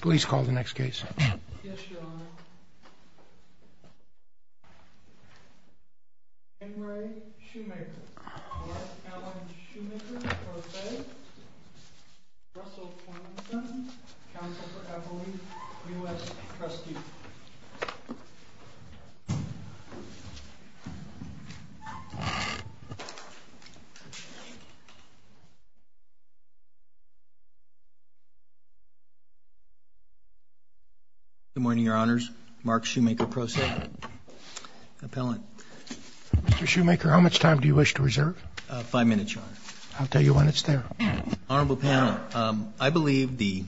Please call the next case. Yes, your honor. Henry Shoemaker, Brett Allen Shoemaker, for the feds, Russell Planson, counsel for Evelyn, U.S. trustee. Good morning, your honors. Mark Shoemaker, pro se. Appellant. Mr. Shoemaker, how much time do you wish to reserve? Five minutes, your honor. I'll tell you when it's there. Honorable panel, I believe the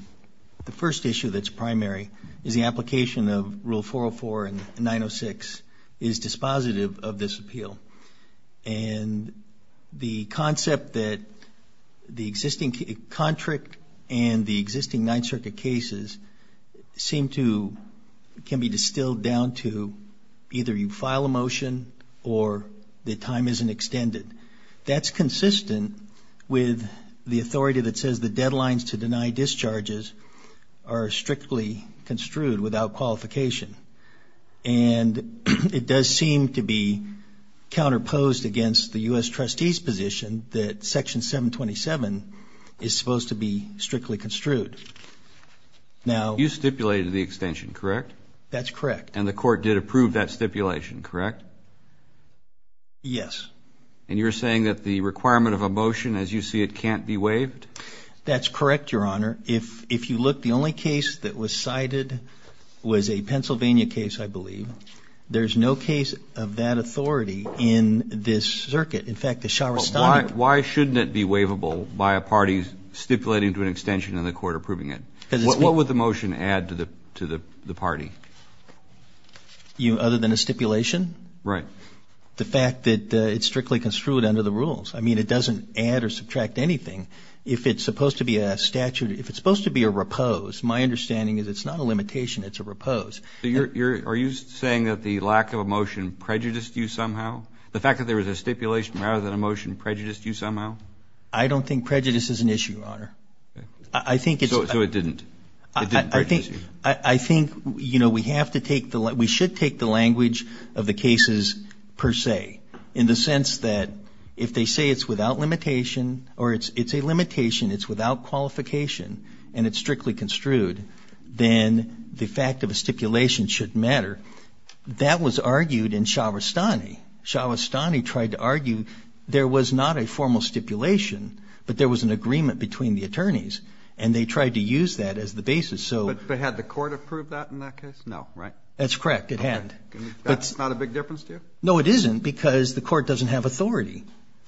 first issue that's primary is the application of Rule 404 and 906 is dispositive of this appeal. And the concept that the existing contract and the existing Ninth Circuit cases seem to, can be distilled down to either you file a motion or the time isn't extended. That's consistent with the authority that says the deadlines to deny discharges are strictly construed without qualification. And it does seem to be counterposed against the U.S. trustee's position that Section 727 is supposed to be strictly construed. Now... You stipulated the extension, correct? That's correct. And the court did approve that stipulation, correct? Yes. And you're saying that the requirement of a motion, as you see it, can't be waived? That's correct, your honor. If you look, the only case that was cited was a Pennsylvania case, I believe. There's no case of that authority in this circuit. In fact, the Sharastan... Why shouldn't it be waivable by a party stipulating to an extension and the court approving it? What would the motion add to the party? Other than a stipulation? Right. The fact that it's strictly construed under the rules. I mean, it doesn't add or subtract anything. If it's supposed to be a statute, if it's supposed to be a repose, my understanding is it's not a limitation, it's a repose. Are you saying that the lack of a motion prejudiced you somehow? The fact that there was a stipulation rather than a motion prejudiced you somehow? I don't think prejudice is an issue, your honor. I think it's... So it didn't? It didn't prejudice you? I think, you know, we have to take the... We should take the language of the cases per se, in the sense that if they say it's without limitation or it's a limitation, it's without qualification, and it's strictly construed, then the fact of a stipulation shouldn't matter. That was argued in Shavastani. Shavastani tried to argue there was not a formal stipulation, but there was an agreement between the attorneys, and they tried to use that as the basis, so... But had the court approved that in that case? No, right? That's correct, it hadn't. That's not a big difference to you? No, it isn't, because the court doesn't have authority.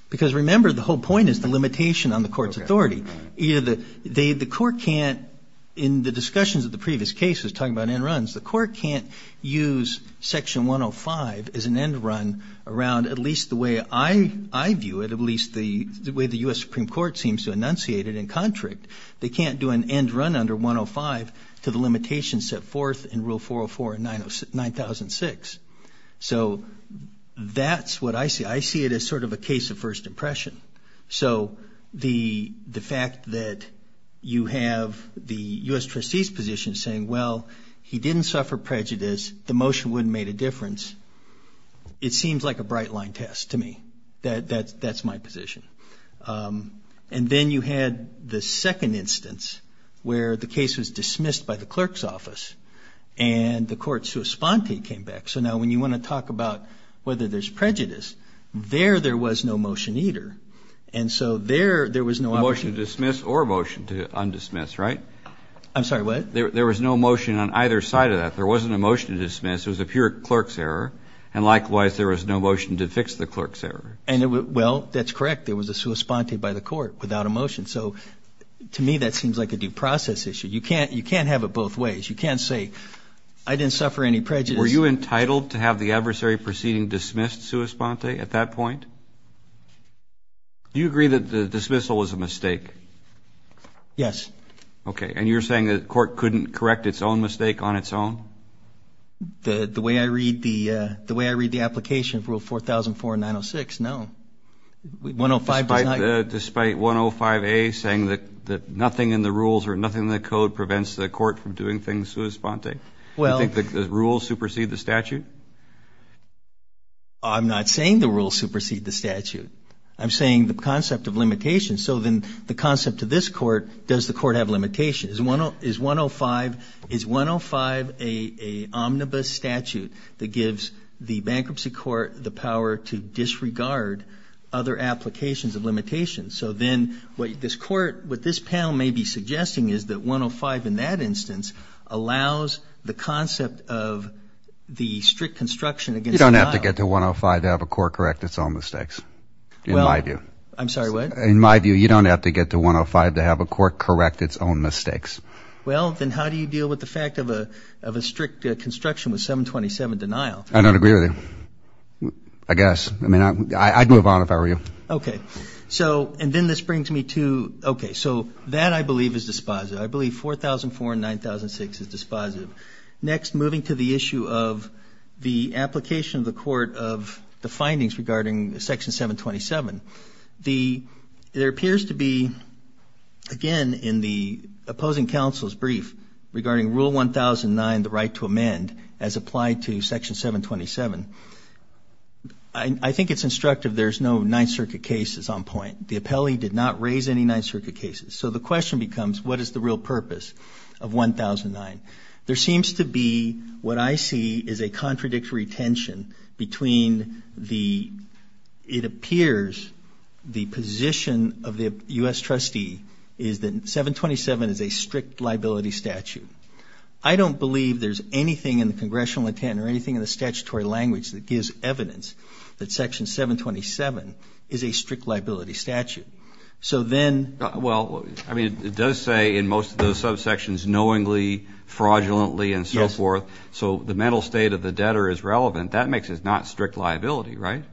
Because, remember, the whole point is the limitation on the court's authority. The court can't, in the discussions of the previous cases, talking about end runs, the court can't use Section 105 as an end run around at least the way I view it, at least the way the U.S. Supreme Court seems to enunciate it in contract. They can't do an end run under 105 to the limitations set forth in Rule 404 and 9006. So that's what I see. I see it as sort of a case of first impression. So the fact that you have the U.S. trustee's position saying, well, he didn't suffer prejudice, the motion wouldn't have made a difference, it seems like a bright line test to me. That's my position. And then you had the second instance where the case was dismissed by the clerk's office and the court sua sponte came back. So now when you want to talk about whether there's prejudice, there, there was no motion either. And so there, there was no option. A motion to dismiss or a motion to undismiss, right? I'm sorry, what? There was no motion on either side of that. There wasn't a motion to dismiss. It was a pure clerk's error. And likewise, there was no motion to fix the clerk's error. Well, that's correct. There was a sua sponte by the court without a motion. So to me, that seems like a due process issue. You can't have it both ways. You can't say, I didn't suffer any prejudice. Were you entitled to have the adversary proceeding dismissed sua sponte at that point? Do you agree that the dismissal was a mistake? Yes. Okay. And you're saying the court couldn't correct its own mistake on its own? The way I read the, the way I read the application of Rule 4004 and 906, no. Despite 105A saying that nothing in the rules or nothing in the code prevents the court from doing things sua sponte? Well. Do you think the rules supersede the statute? I'm not saying the rules supersede the statute. I'm saying the concept of limitations. So then the concept to this court, does the court have limitations? Is 105, is 105 a omnibus statute that gives the bankruptcy court the power to disregard other applications of limitations? So then what this court, what this panel may be suggesting is that 105 in that instance allows the concept of the strict construction against denial. You don't have to get to 105 to have a court correct its own mistakes, in my view. I'm sorry, what? In my view, you don't have to get to 105 to have a court correct its own mistakes. Well, then how do you deal with the fact of a strict construction with 727 denial? I don't agree with you. I guess. I mean, I'd move on if I were you. Okay. So, and then this brings me to, okay, so that I believe is dispositive. I believe 4004 and 9006 is dispositive. Next, moving to the issue of the application of the court of the findings regarding Section 727. There appears to be, again, in the opposing counsel's brief regarding Rule 1009, the right to amend, as applied to Section 727. I think it's instructive there's no Ninth Circuit cases on point. The appellee did not raise any Ninth Circuit cases. So the question becomes, what is the real purpose of 1009? There seems to be what I see is a contradictory tension between the, it appears the position of the U.S. trustee is that 727 is a strict liability statute. I don't believe there's anything in the Congressional intent or anything in the statutory language that gives evidence that Section 727 is a strict liability statute. So then. Well, I mean, it does say in most of those subsections knowingly, fraudulently, and so forth. So the mental state of the debtor is relevant. That makes it not strict liability, right?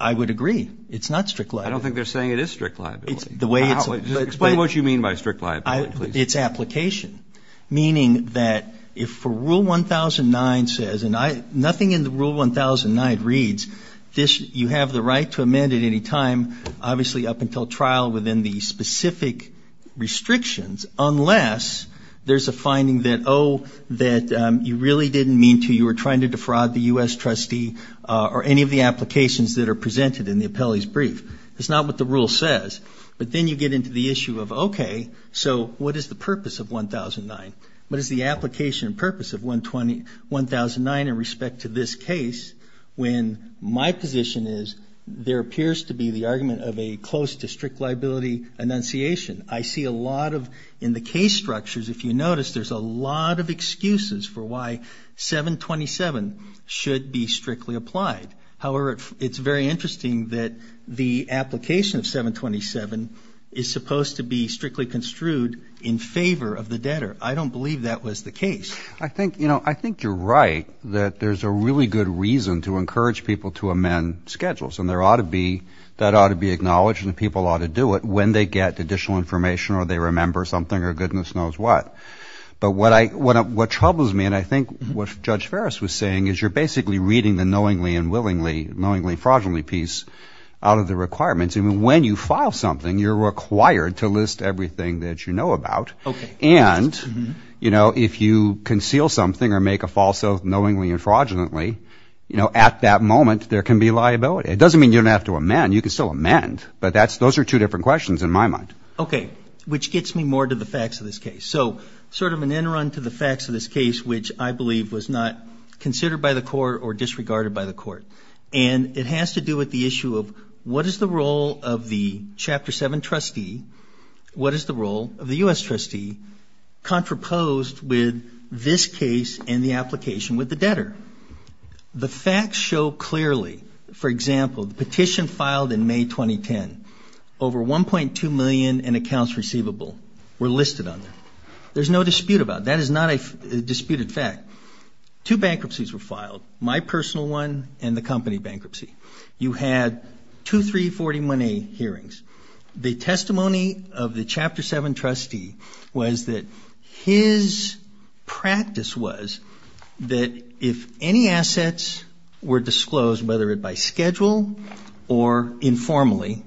I would agree. It's not strict liability. I don't think they're saying it is strict liability. Explain what you mean by strict liability, please. It's application. Meaning that if for Rule 1009 says, and nothing in the Rule 1009 reads, you have the right to amend at any time, obviously up until trial within the specific restrictions, unless there's a finding that, oh, that you really didn't mean to, you were trying to defraud the U.S. trustee or any of the applications that are presented in the appellee's brief. That's not what the rule says. But then you get into the issue of, okay, so what is the purpose of 1009? What is the application purpose of 1009 in respect to this case when my position is there appears to be the argument of a close to strict liability enunciation. I see a lot of, in the case structures, if you notice, there's a lot of excuses for why 727 should be strictly applied. However, it's very interesting that the application of 727 is supposed to be strictly construed in favor of the debtor. I don't believe that was the case. I think, you know, I think you're right that there's a really good reason to encourage people to amend schedules, and there ought to be, that ought to be acknowledged and people ought to do it when they get additional information or they remember something or goodness knows what. But what troubles me and I think what Judge Ferris was saying is you're basically reading the knowingly and willingly, knowingly and fraudulently piece out of the requirements. And when you file something, you're required to list everything that you know about. And, you know, if you conceal something or make a false oath knowingly and fraudulently, you know, at that moment, there can be liability. It doesn't mean you don't have to amend. You can still amend. But those are two different questions in my mind. Okay, which gets me more to the facts of this case. So sort of an end run to the facts of this case, which I believe was not considered by the court or disregarded by the court. And it has to do with the issue of what is the role of the Chapter 7 trustee, what is the role of the U.S. trustee contraposed with this case and the application with the debtor. The facts show clearly, for example, the petition filed in May 2010. Over 1.2 million in accounts receivable were listed on there. There's no dispute about it. That is not a disputed fact. Two bankruptcies were filed, my personal one and the company bankruptcy. You had two 340 money hearings. The testimony of the Chapter 7 trustee was that his practice was that if any assets were disclosed, whether it by schedule or informally,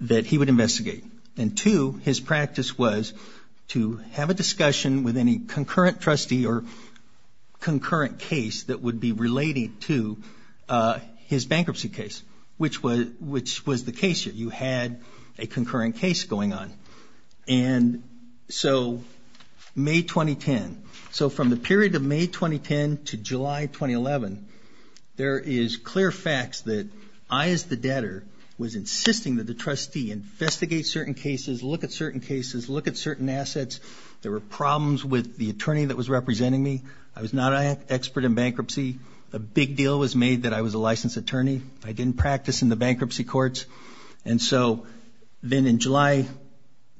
that he would investigate. And, two, his practice was to have a discussion with any concurrent trustee or concurrent case that would be related to his bankruptcy case, which was the case. You had a concurrent case going on. And so May 2010, so from the period of May 2010 to July 2011, there is clear facts that I, as the debtor, was insisting that the trustee investigate certain cases, look at certain cases, look at certain assets. There were problems with the attorney that was representing me. I was not an expert in bankruptcy. A big deal was made that I was a licensed attorney. I didn't practice in the bankruptcy courts. And so then in July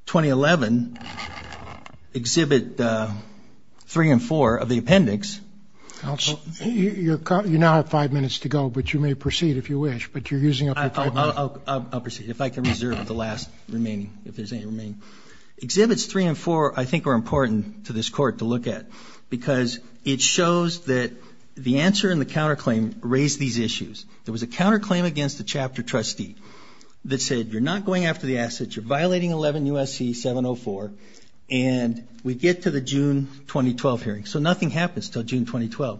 2011, Exhibit 3 and 4 of the appendix. You now have five minutes to go, but you may proceed if you wish. But you're using up your time. I'll proceed if I can reserve the last remaining, if there's any remaining. Exhibits 3 and 4 I think are important to this Court to look at because it shows that the answer and the counterclaim raise these issues. There was a counterclaim against the chapter trustee that said, you're not going after the assets, you're violating 11 U.S.C. 704, and we get to the June 2012 hearing. So nothing happens until June 2012.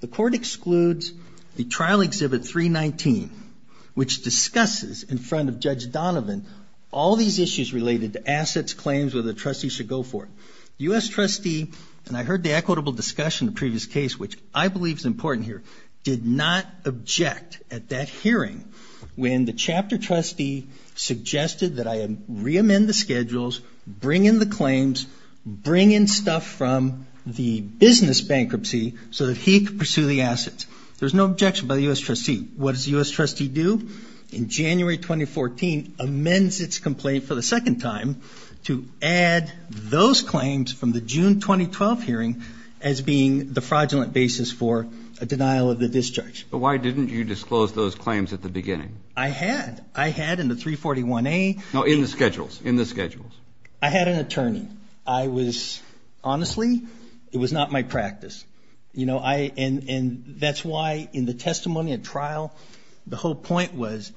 The Court excludes the Trial Exhibit 319, which discusses in front of Judge Donovan all these issues related to assets, claims, whether the trustee should go for it. U.S. trustee, and I heard the equitable discussion in the previous case, which I believe is important here, did not object at that hearing when the chapter trustee suggested that I reamend the schedules, bring in the claims, bring in stuff from the business bankruptcy so that he could pursue the assets. There's no objection by the U.S. trustee. What does the U.S. trustee do? In January 2014, amends its complaint for the second time to add those claims from the June 2012 hearing as being the fraudulent basis for a denial of the discharge. But why didn't you disclose those claims at the beginning? I had. I had in the 341A. No, in the schedules, in the schedules. I had an attorney. I was honestly, it was not my practice. And that's why in the testimony at trial, the whole point was,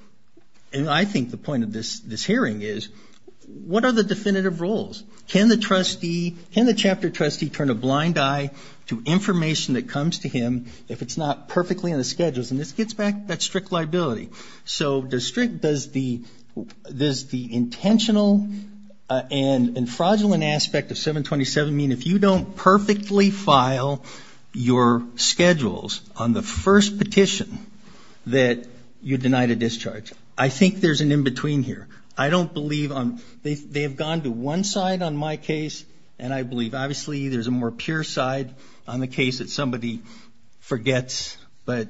and I think the point of this hearing is, what are the definitive rules? Can the trustee, can the chapter trustee turn a blind eye to information that comes to him if it's not perfectly in the schedules? And this gets back to that strict liability. So does the intentional and fraudulent aspect of 727 mean if you don't perfectly file your schedules on the first petition that you deny the discharge? I think there's an in-between here. I don't believe on, they have gone to one side on my case, and I believe obviously there's a more pure side on the case that somebody forgets, but,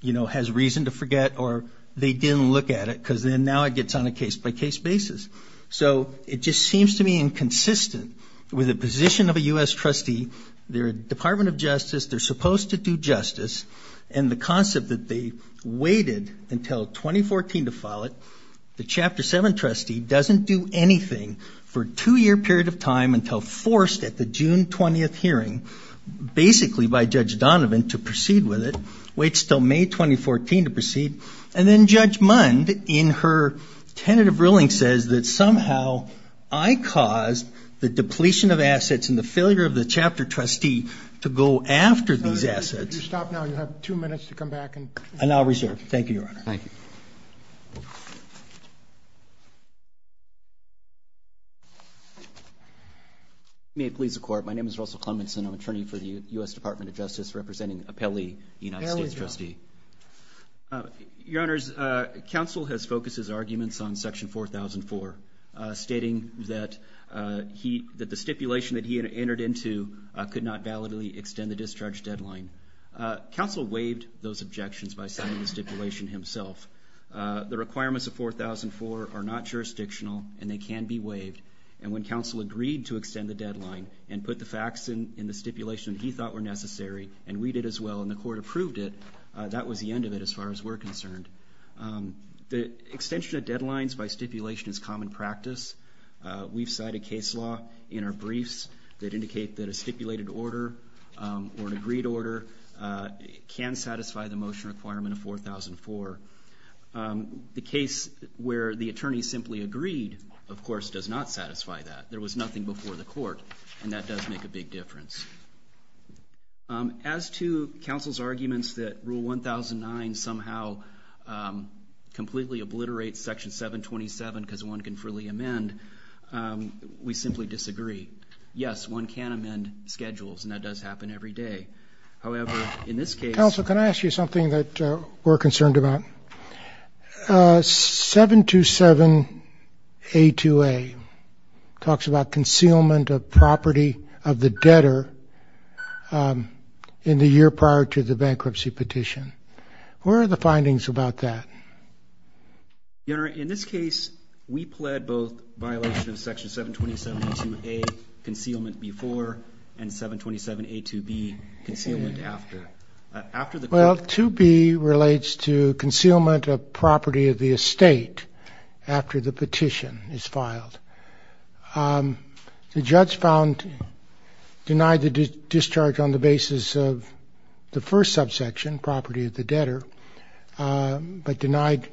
you know, has reason to forget, or they didn't look at it because then now it gets on a case-by-case basis. So it just seems to me inconsistent with the position of a U.S. trustee. They're a Department of Justice. They're supposed to do justice. And the concept that they waited until 2014 to file it, the Chapter 7 trustee doesn't do anything for a two-year period of time until forced at the June 20th hearing, basically by Judge Donovan, to proceed with it, waits until May 2014 to proceed, and then Judge Mund in her tentative ruling says that somehow I caused the depletion of assets and the failure of the Chapter trustee to go after these assets. If you stop now, you'll have two minutes to come back. And I'll reserve. Thank you, Your Honor. Thank you. May it please the Court, my name is Russell Clemmons, and I'm an attorney for the U.S. Department of Justice, representing Appelli, the United States trustee. Your Honors, counsel has focused his arguments on Section 4004, stating that the stipulation that he had entered into could not validly extend the discharge deadline. Counsel waived those objections by sending the stipulation himself. The requirements of 4004 are not jurisdictional, and they can be waived. And when counsel agreed to extend the deadline and put the facts in the stipulation he thought were necessary, and we did as well and the Court approved it, that was the end of it as far as we're concerned. The extension of deadlines by stipulation is common practice. We've cited case law in our briefs that indicate that a stipulated order or an agreed order can satisfy the motion requirement of 4004. The case where the attorney simply agreed, of course, does not satisfy that. There was nothing before the Court, and that does make a big difference. As to counsel's arguments that Rule 1009 somehow completely obliterates Section 727 because one can freely amend, we simply disagree. Yes, one can amend schedules, and that does happen every day. However, in this case— Counsel, can I ask you something that we're concerned about? 727A2A talks about concealment of property of the debtor in the year prior to the bankruptcy petition. Where are the findings about that? Your Honor, in this case, we pled both violation of Section 727A2A, concealment before, and 727A2B, concealment after. Well, 2B relates to concealment of property of the estate after the petition is filed. The judge found—denied the discharge on the basis of the first subsection, property of the debtor, but denied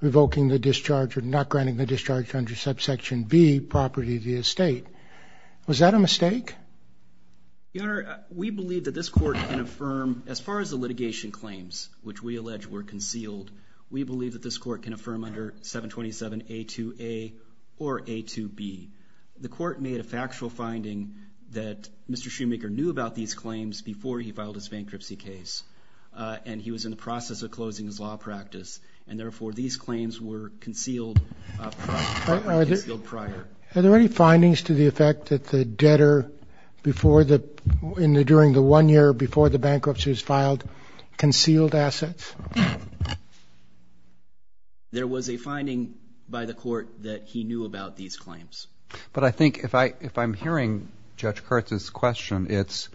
revoking the discharge or not granting the discharge under subsection B, property of the estate. Was that a mistake? Your Honor, we believe that this court can affirm, as far as the litigation claims, which we allege were concealed, we believe that this court can affirm under 727A2A or A2B. The court made a factual finding that Mr. Shoemaker knew about these claims before he filed his bankruptcy case, and he was in the process of closing his law practice, and therefore these claims were concealed prior. Are there any findings to the effect that the debtor, during the one year before the bankruptcy was filed, concealed assets? There was a finding by the court that he knew about these claims. But I think if I'm hearing Judge Kurtz's question, it's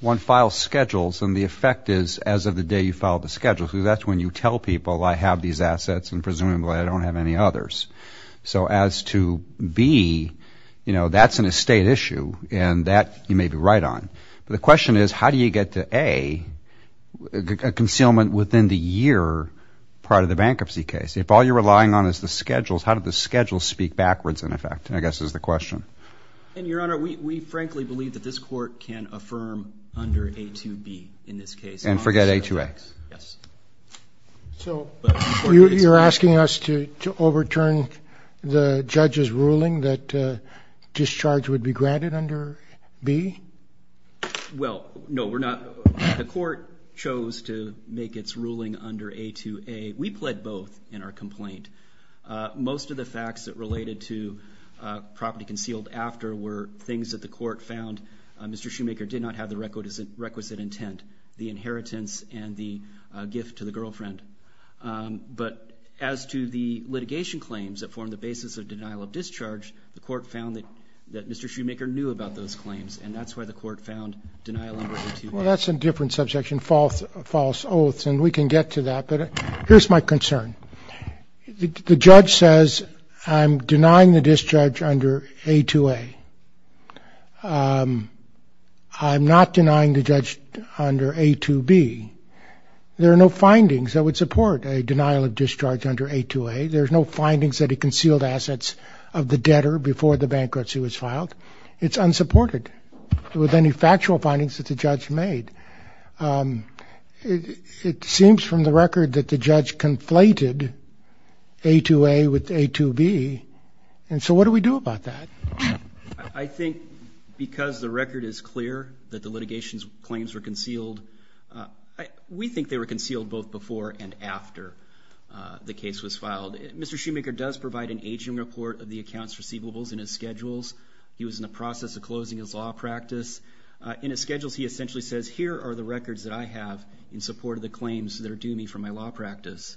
one files schedules, and the effect is as of the day you filed the schedule, and presumably I don't have any others. So as to B, that's an estate issue, and that you may be right on. But the question is, how do you get to A, a concealment within the year prior to the bankruptcy case? If all you're relying on is the schedules, how do the schedules speak backwards in effect, I guess is the question. Your Honor, we frankly believe that this court can affirm under A2B in this case. And forget A2A? Yes. So you're asking us to overturn the judge's ruling that discharge would be granted under B? Well, no, we're not. The court chose to make its ruling under A2A. We pled both in our complaint. Most of the facts that related to property concealed after were things that the court found Mr. Shoemaker did not have the requisite intent. The inheritance and the gift to the girlfriend. But as to the litigation claims that form the basis of denial of discharge, the court found that Mr. Shoemaker knew about those claims, and that's why the court found denial under A2B. Well, that's a different subsection, false oaths, and we can get to that. But here's my concern. The judge says I'm denying the discharge under A2A. I'm not denying the judge under A2B. There are no findings that would support a denial of discharge under A2A. There's no findings that he concealed assets of the debtor before the bankruptcy was filed. It's unsupported with any factual findings that the judge made. It seems from the record that the judge conflated A2A with A2B. And so what do we do about that? I think because the record is clear that the litigation claims were concealed, we think they were concealed both before and after the case was filed. Mr. Shoemaker does provide an aging report of the accounts receivables in his schedules. He was in the process of closing his law practice. In his schedules, he essentially says, here are the records that I have in support of the claims that are due me for my law practice.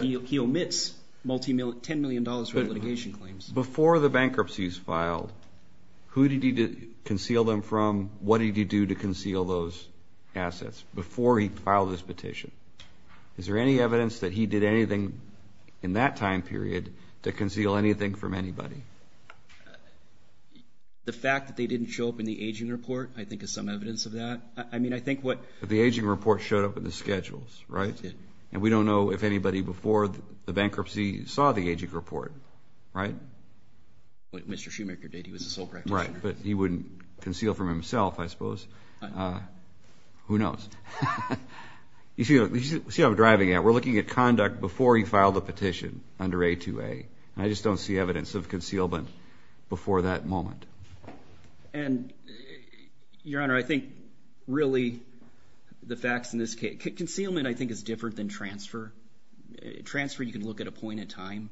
He omits $10 million for litigation claims. Before the bankruptcies filed, who did he conceal them from? What did he do to conceal those assets before he filed this petition? Is there any evidence that he did anything in that time period to conceal anything from anybody? The fact that they didn't show up in the aging report I think is some evidence of that. I mean, I think what the aging report showed up in the schedules, right? And we don't know if anybody before the bankruptcy saw the aging report, right? Mr. Shoemaker did. He was a sole practitioner. Right, but he wouldn't conceal from himself, I suppose. Who knows? You see what I'm driving at? We're looking at conduct before he filed a petition under A2A. I just don't see evidence of concealment before that moment. And, Your Honor, I think really the facts in this case. Concealment, I think, is different than transfer. Transfer, you can look at a point in time,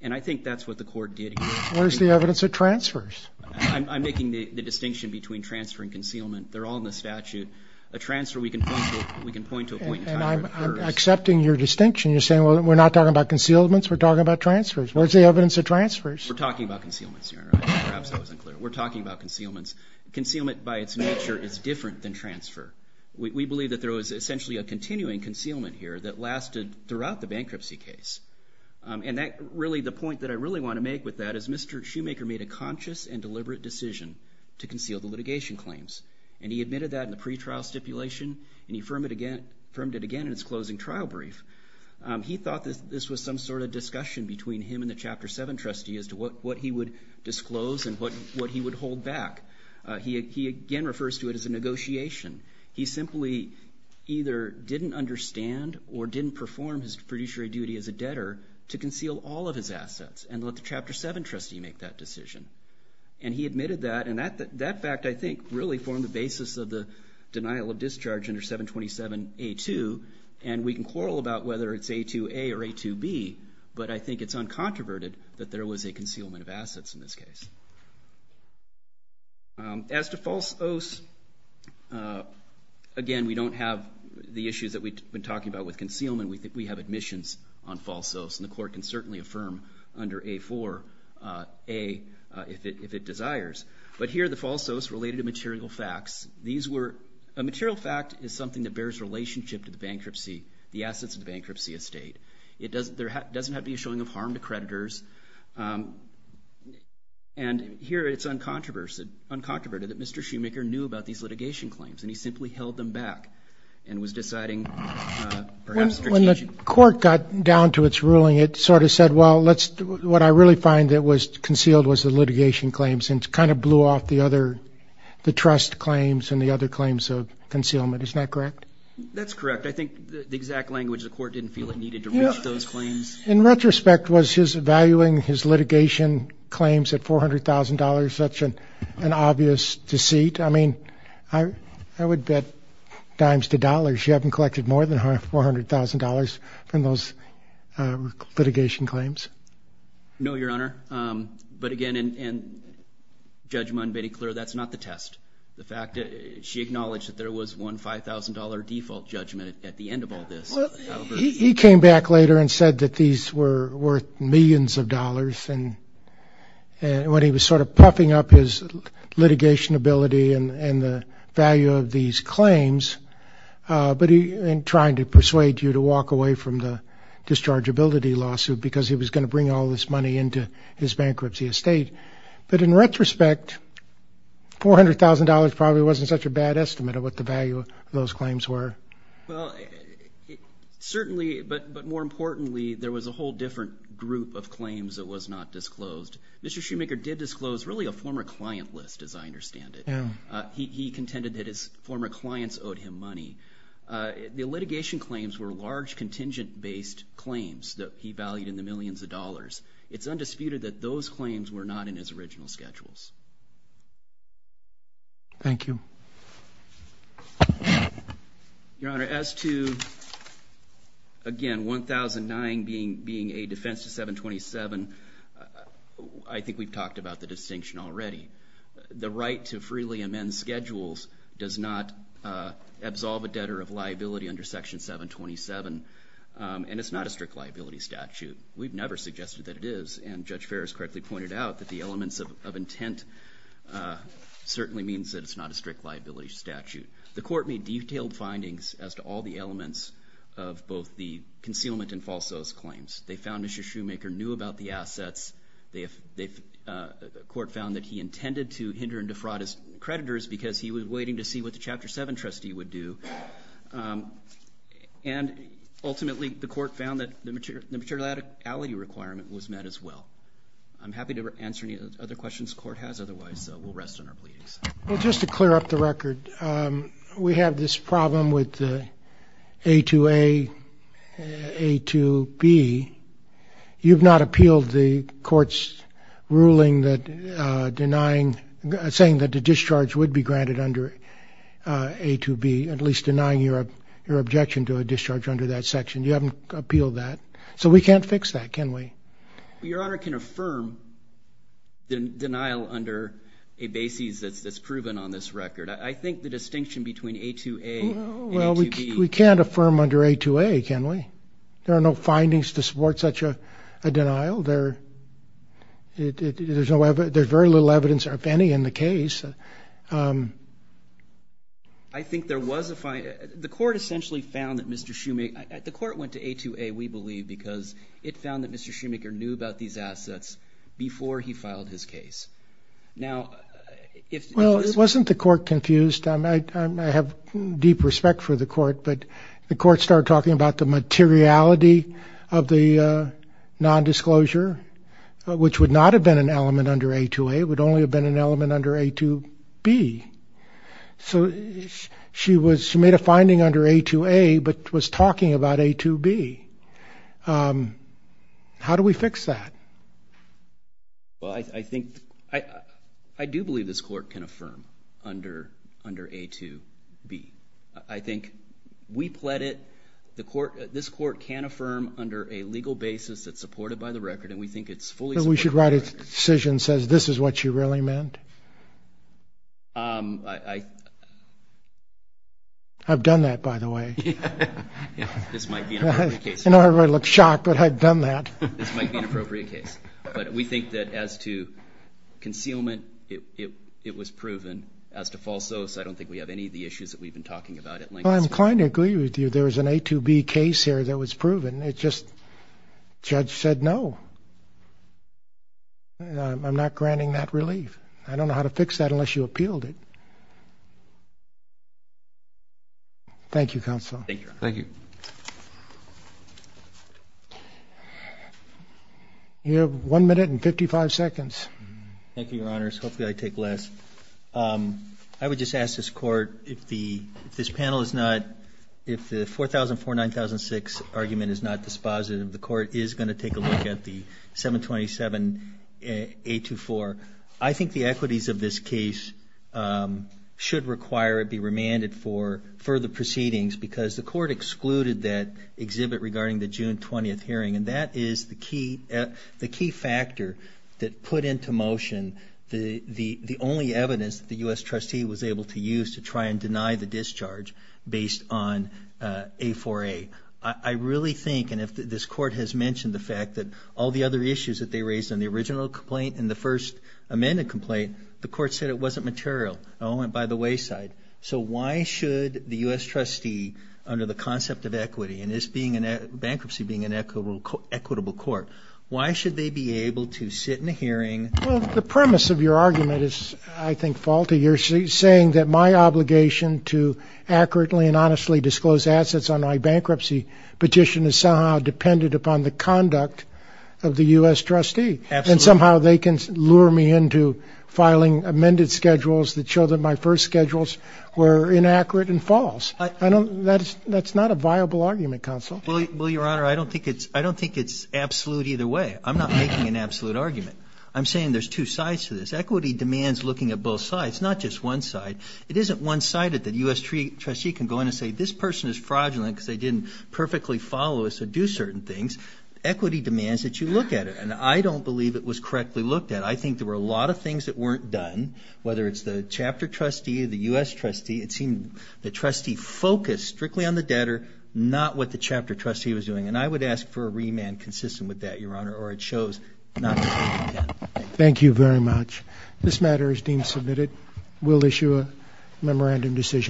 and I think that's what the court did here. Where's the evidence of transfers? I'm making the distinction between transfer and concealment. They're all in the statute. A transfer, we can point to a point in time. And I'm accepting your distinction. You're saying, well, we're not talking about concealments. We're talking about transfers. Where's the evidence of transfers? We're talking about concealments, Your Honor. Perhaps that was unclear. We're talking about concealments. Concealment, by its nature, is different than transfer. We believe that there was essentially a continuing concealment here that lasted throughout the bankruptcy case. And the point that I really want to make with that is Mr. Shoemaker made a conscious and deliberate decision to conceal the litigation claims. And he admitted that in the pretrial stipulation, and he affirmed it again in his closing trial brief. He thought that this was some sort of discussion between him and the Chapter 7 trustee as to what he would disclose and what he would hold back. He again refers to it as a negotiation. He simply either didn't understand or didn't perform his fiduciary duty as a debtor to conceal all of his assets and let the Chapter 7 trustee make that decision. And he admitted that, and that fact, I think, really formed the basis of the denial of discharge under 727A2. And we can quarrel about whether it's A2A or A2B, but I think it's uncontroverted that there was a concealment of assets in this case. As to false oaths, again, we don't have the issues that we've been talking about with concealment. We have admissions on false oaths, and the court can certainly affirm under A4A if it desires. But here are the false oaths related to material facts. A material fact is something that bears relationship to the bankruptcy, the assets of the bankruptcy estate. It doesn't have to be a showing of harm to creditors. And here it's uncontroverted that Mr. Schumacher knew about these litigation claims, and he simply held them back and was deciding perhaps the litigation. When the court got down to its ruling, it sort of said, well, what I really find that was concealed was the litigation claims, and it kind of blew off the trust claims and the other claims of concealment. Isn't that correct? That's correct. I think the exact language the court didn't feel it needed to reach those claims. In retrospect, was his valuing his litigation claims at $400,000 such an obvious deceit? I mean, I would bet dimes to dollars you haven't collected more than $400,000 from those litigation claims. No, Your Honor. But again, in judgment and being clear, that's not the test. The fact that she acknowledged that there was one $5,000 default judgment at the end of all this. He came back later and said that these were worth millions of dollars. And when he was sort of puffing up his litigation ability and the value of these claims, but in trying to persuade you to walk away from the dischargeability lawsuit because he was going to bring all this money into his bankruptcy estate. But in retrospect, $400,000 probably wasn't such a bad estimate of what the value of those claims were. Well, certainly, but more importantly, there was a whole different group of claims that was not disclosed. Mr. Shoemaker did disclose really a former client list, as I understand it. He contended that his former clients owed him money. The litigation claims were large contingent-based claims that he valued in the millions of dollars. It's undisputed that those claims were not in his original schedules. Thank you. Your Honor, as to, again, 1009 being a defense to 727, I think we've talked about the distinction already. The right to freely amend schedules does not absolve a debtor of liability under Section 727, and it's not a strict liability statute. We've never suggested that it is, and Judge Ferrer has correctly pointed out that the elements of intent certainly means that it's not a strict liability statute. The Court made detailed findings as to all the elements of both the concealment and false oath claims. They found Mr. Shoemaker knew about the assets. The Court found that he intended to hinder and defraud his creditors because he was waiting to see what the Chapter 7 trustee would do. And ultimately, the Court found that the materiality requirement was met as well. I'm happy to answer any other questions the Court has. Otherwise, we'll rest on our pleadings. Well, just to clear up the record, we have this problem with the A2A, A2B. You've not appealed the Court's ruling saying that the discharge would be granted under A2B, at least denying your objection to a discharge under that section. You haven't appealed that. So we can't fix that, can we? Your Honor can affirm the denial under a basis that's proven on this record. I think the distinction between A2A and A2B. Well, we can't affirm under A2A, can we? There are no findings to support such a denial. There's very little evidence, if any, in the case. I think there was a finding. The Court essentially found that Mr. Schumacher – the Court went to A2A, we believe, because it found that Mr. Schumacher knew about these assets before he filed his case. Now, if – Well, it wasn't the Court confused. I have deep respect for the Court. But the Court started talking about the materiality of the nondisclosure, which would not have been an element under A2A. It would only have been an element under A2B. So she made a finding under A2A but was talking about A2B. How do we fix that? Well, I think – I do believe this Court can affirm under A2B. I think we pled it. This Court can affirm under a legal basis that's supported by the record, and we think it's fully supported by the record. Do you think we should write a decision that says this is what she really meant? I – I've done that, by the way. This might be an appropriate case. I know everybody looks shocked, but I've done that. This might be an appropriate case. But we think that as to concealment, it was proven. As to false oaths, I don't think we have any of the issues that we've been talking about at length. Well, I'm inclined to agree with you. There was an A2B case here that was proven. It just – judge said no. I'm not granting that relief. I don't know how to fix that unless you appealed it. Thank you, Counsel. Thank you, Your Honor. Thank you. You have one minute and 55 seconds. Thank you, Your Honors. Hopefully I take less. I would just ask this Court if the – if this panel is not – if the 4004-9006 argument is not dispositive, the Court is going to take a look at the 727-824. I think the equities of this case should require it be remanded for further proceedings because the Court excluded that exhibit regarding the June 20th hearing, and that is the key – the key factor that put into motion the only evidence that the U.S. trustee was able to use to try and deny the discharge based on A4A. I really think – and this Court has mentioned the fact that all the other issues that they raised in the original complaint and the first amended complaint, the Court said it wasn't material. It all went by the wayside. So why should the U.S. trustee, under the concept of equity and bankruptcy being an equitable court, why should they be able to sit in a hearing – Well, the premise of your argument is, I think, faulty. You're saying that my obligation to accurately and honestly disclose assets on my bankruptcy petition is somehow dependent upon the conduct of the U.S. trustee. Absolutely. And somehow they can lure me into filing amended schedules that show that my first schedules were inaccurate and false. That's not a viable argument, counsel. Well, Your Honor, I don't think it's absolute either way. I'm not making an absolute argument. I'm saying there's two sides to this. Equity demands looking at both sides, not just one side. It isn't one-sided that a U.S. trustee can go in and say, this person is fraudulent because they didn't perfectly follow us or do certain things. Equity demands that you look at it. And I don't believe it was correctly looked at. I think there were a lot of things that weren't done, whether it's the chapter trustee, the U.S. trustee. It seemed the trustee focused strictly on the debtor, not what the chapter trustee was doing. And I would ask for a remand consistent with that, Your Honor, or it shows not to be done. Thank you very much. This matter is deemed submitted. We'll issue a memorandum decision.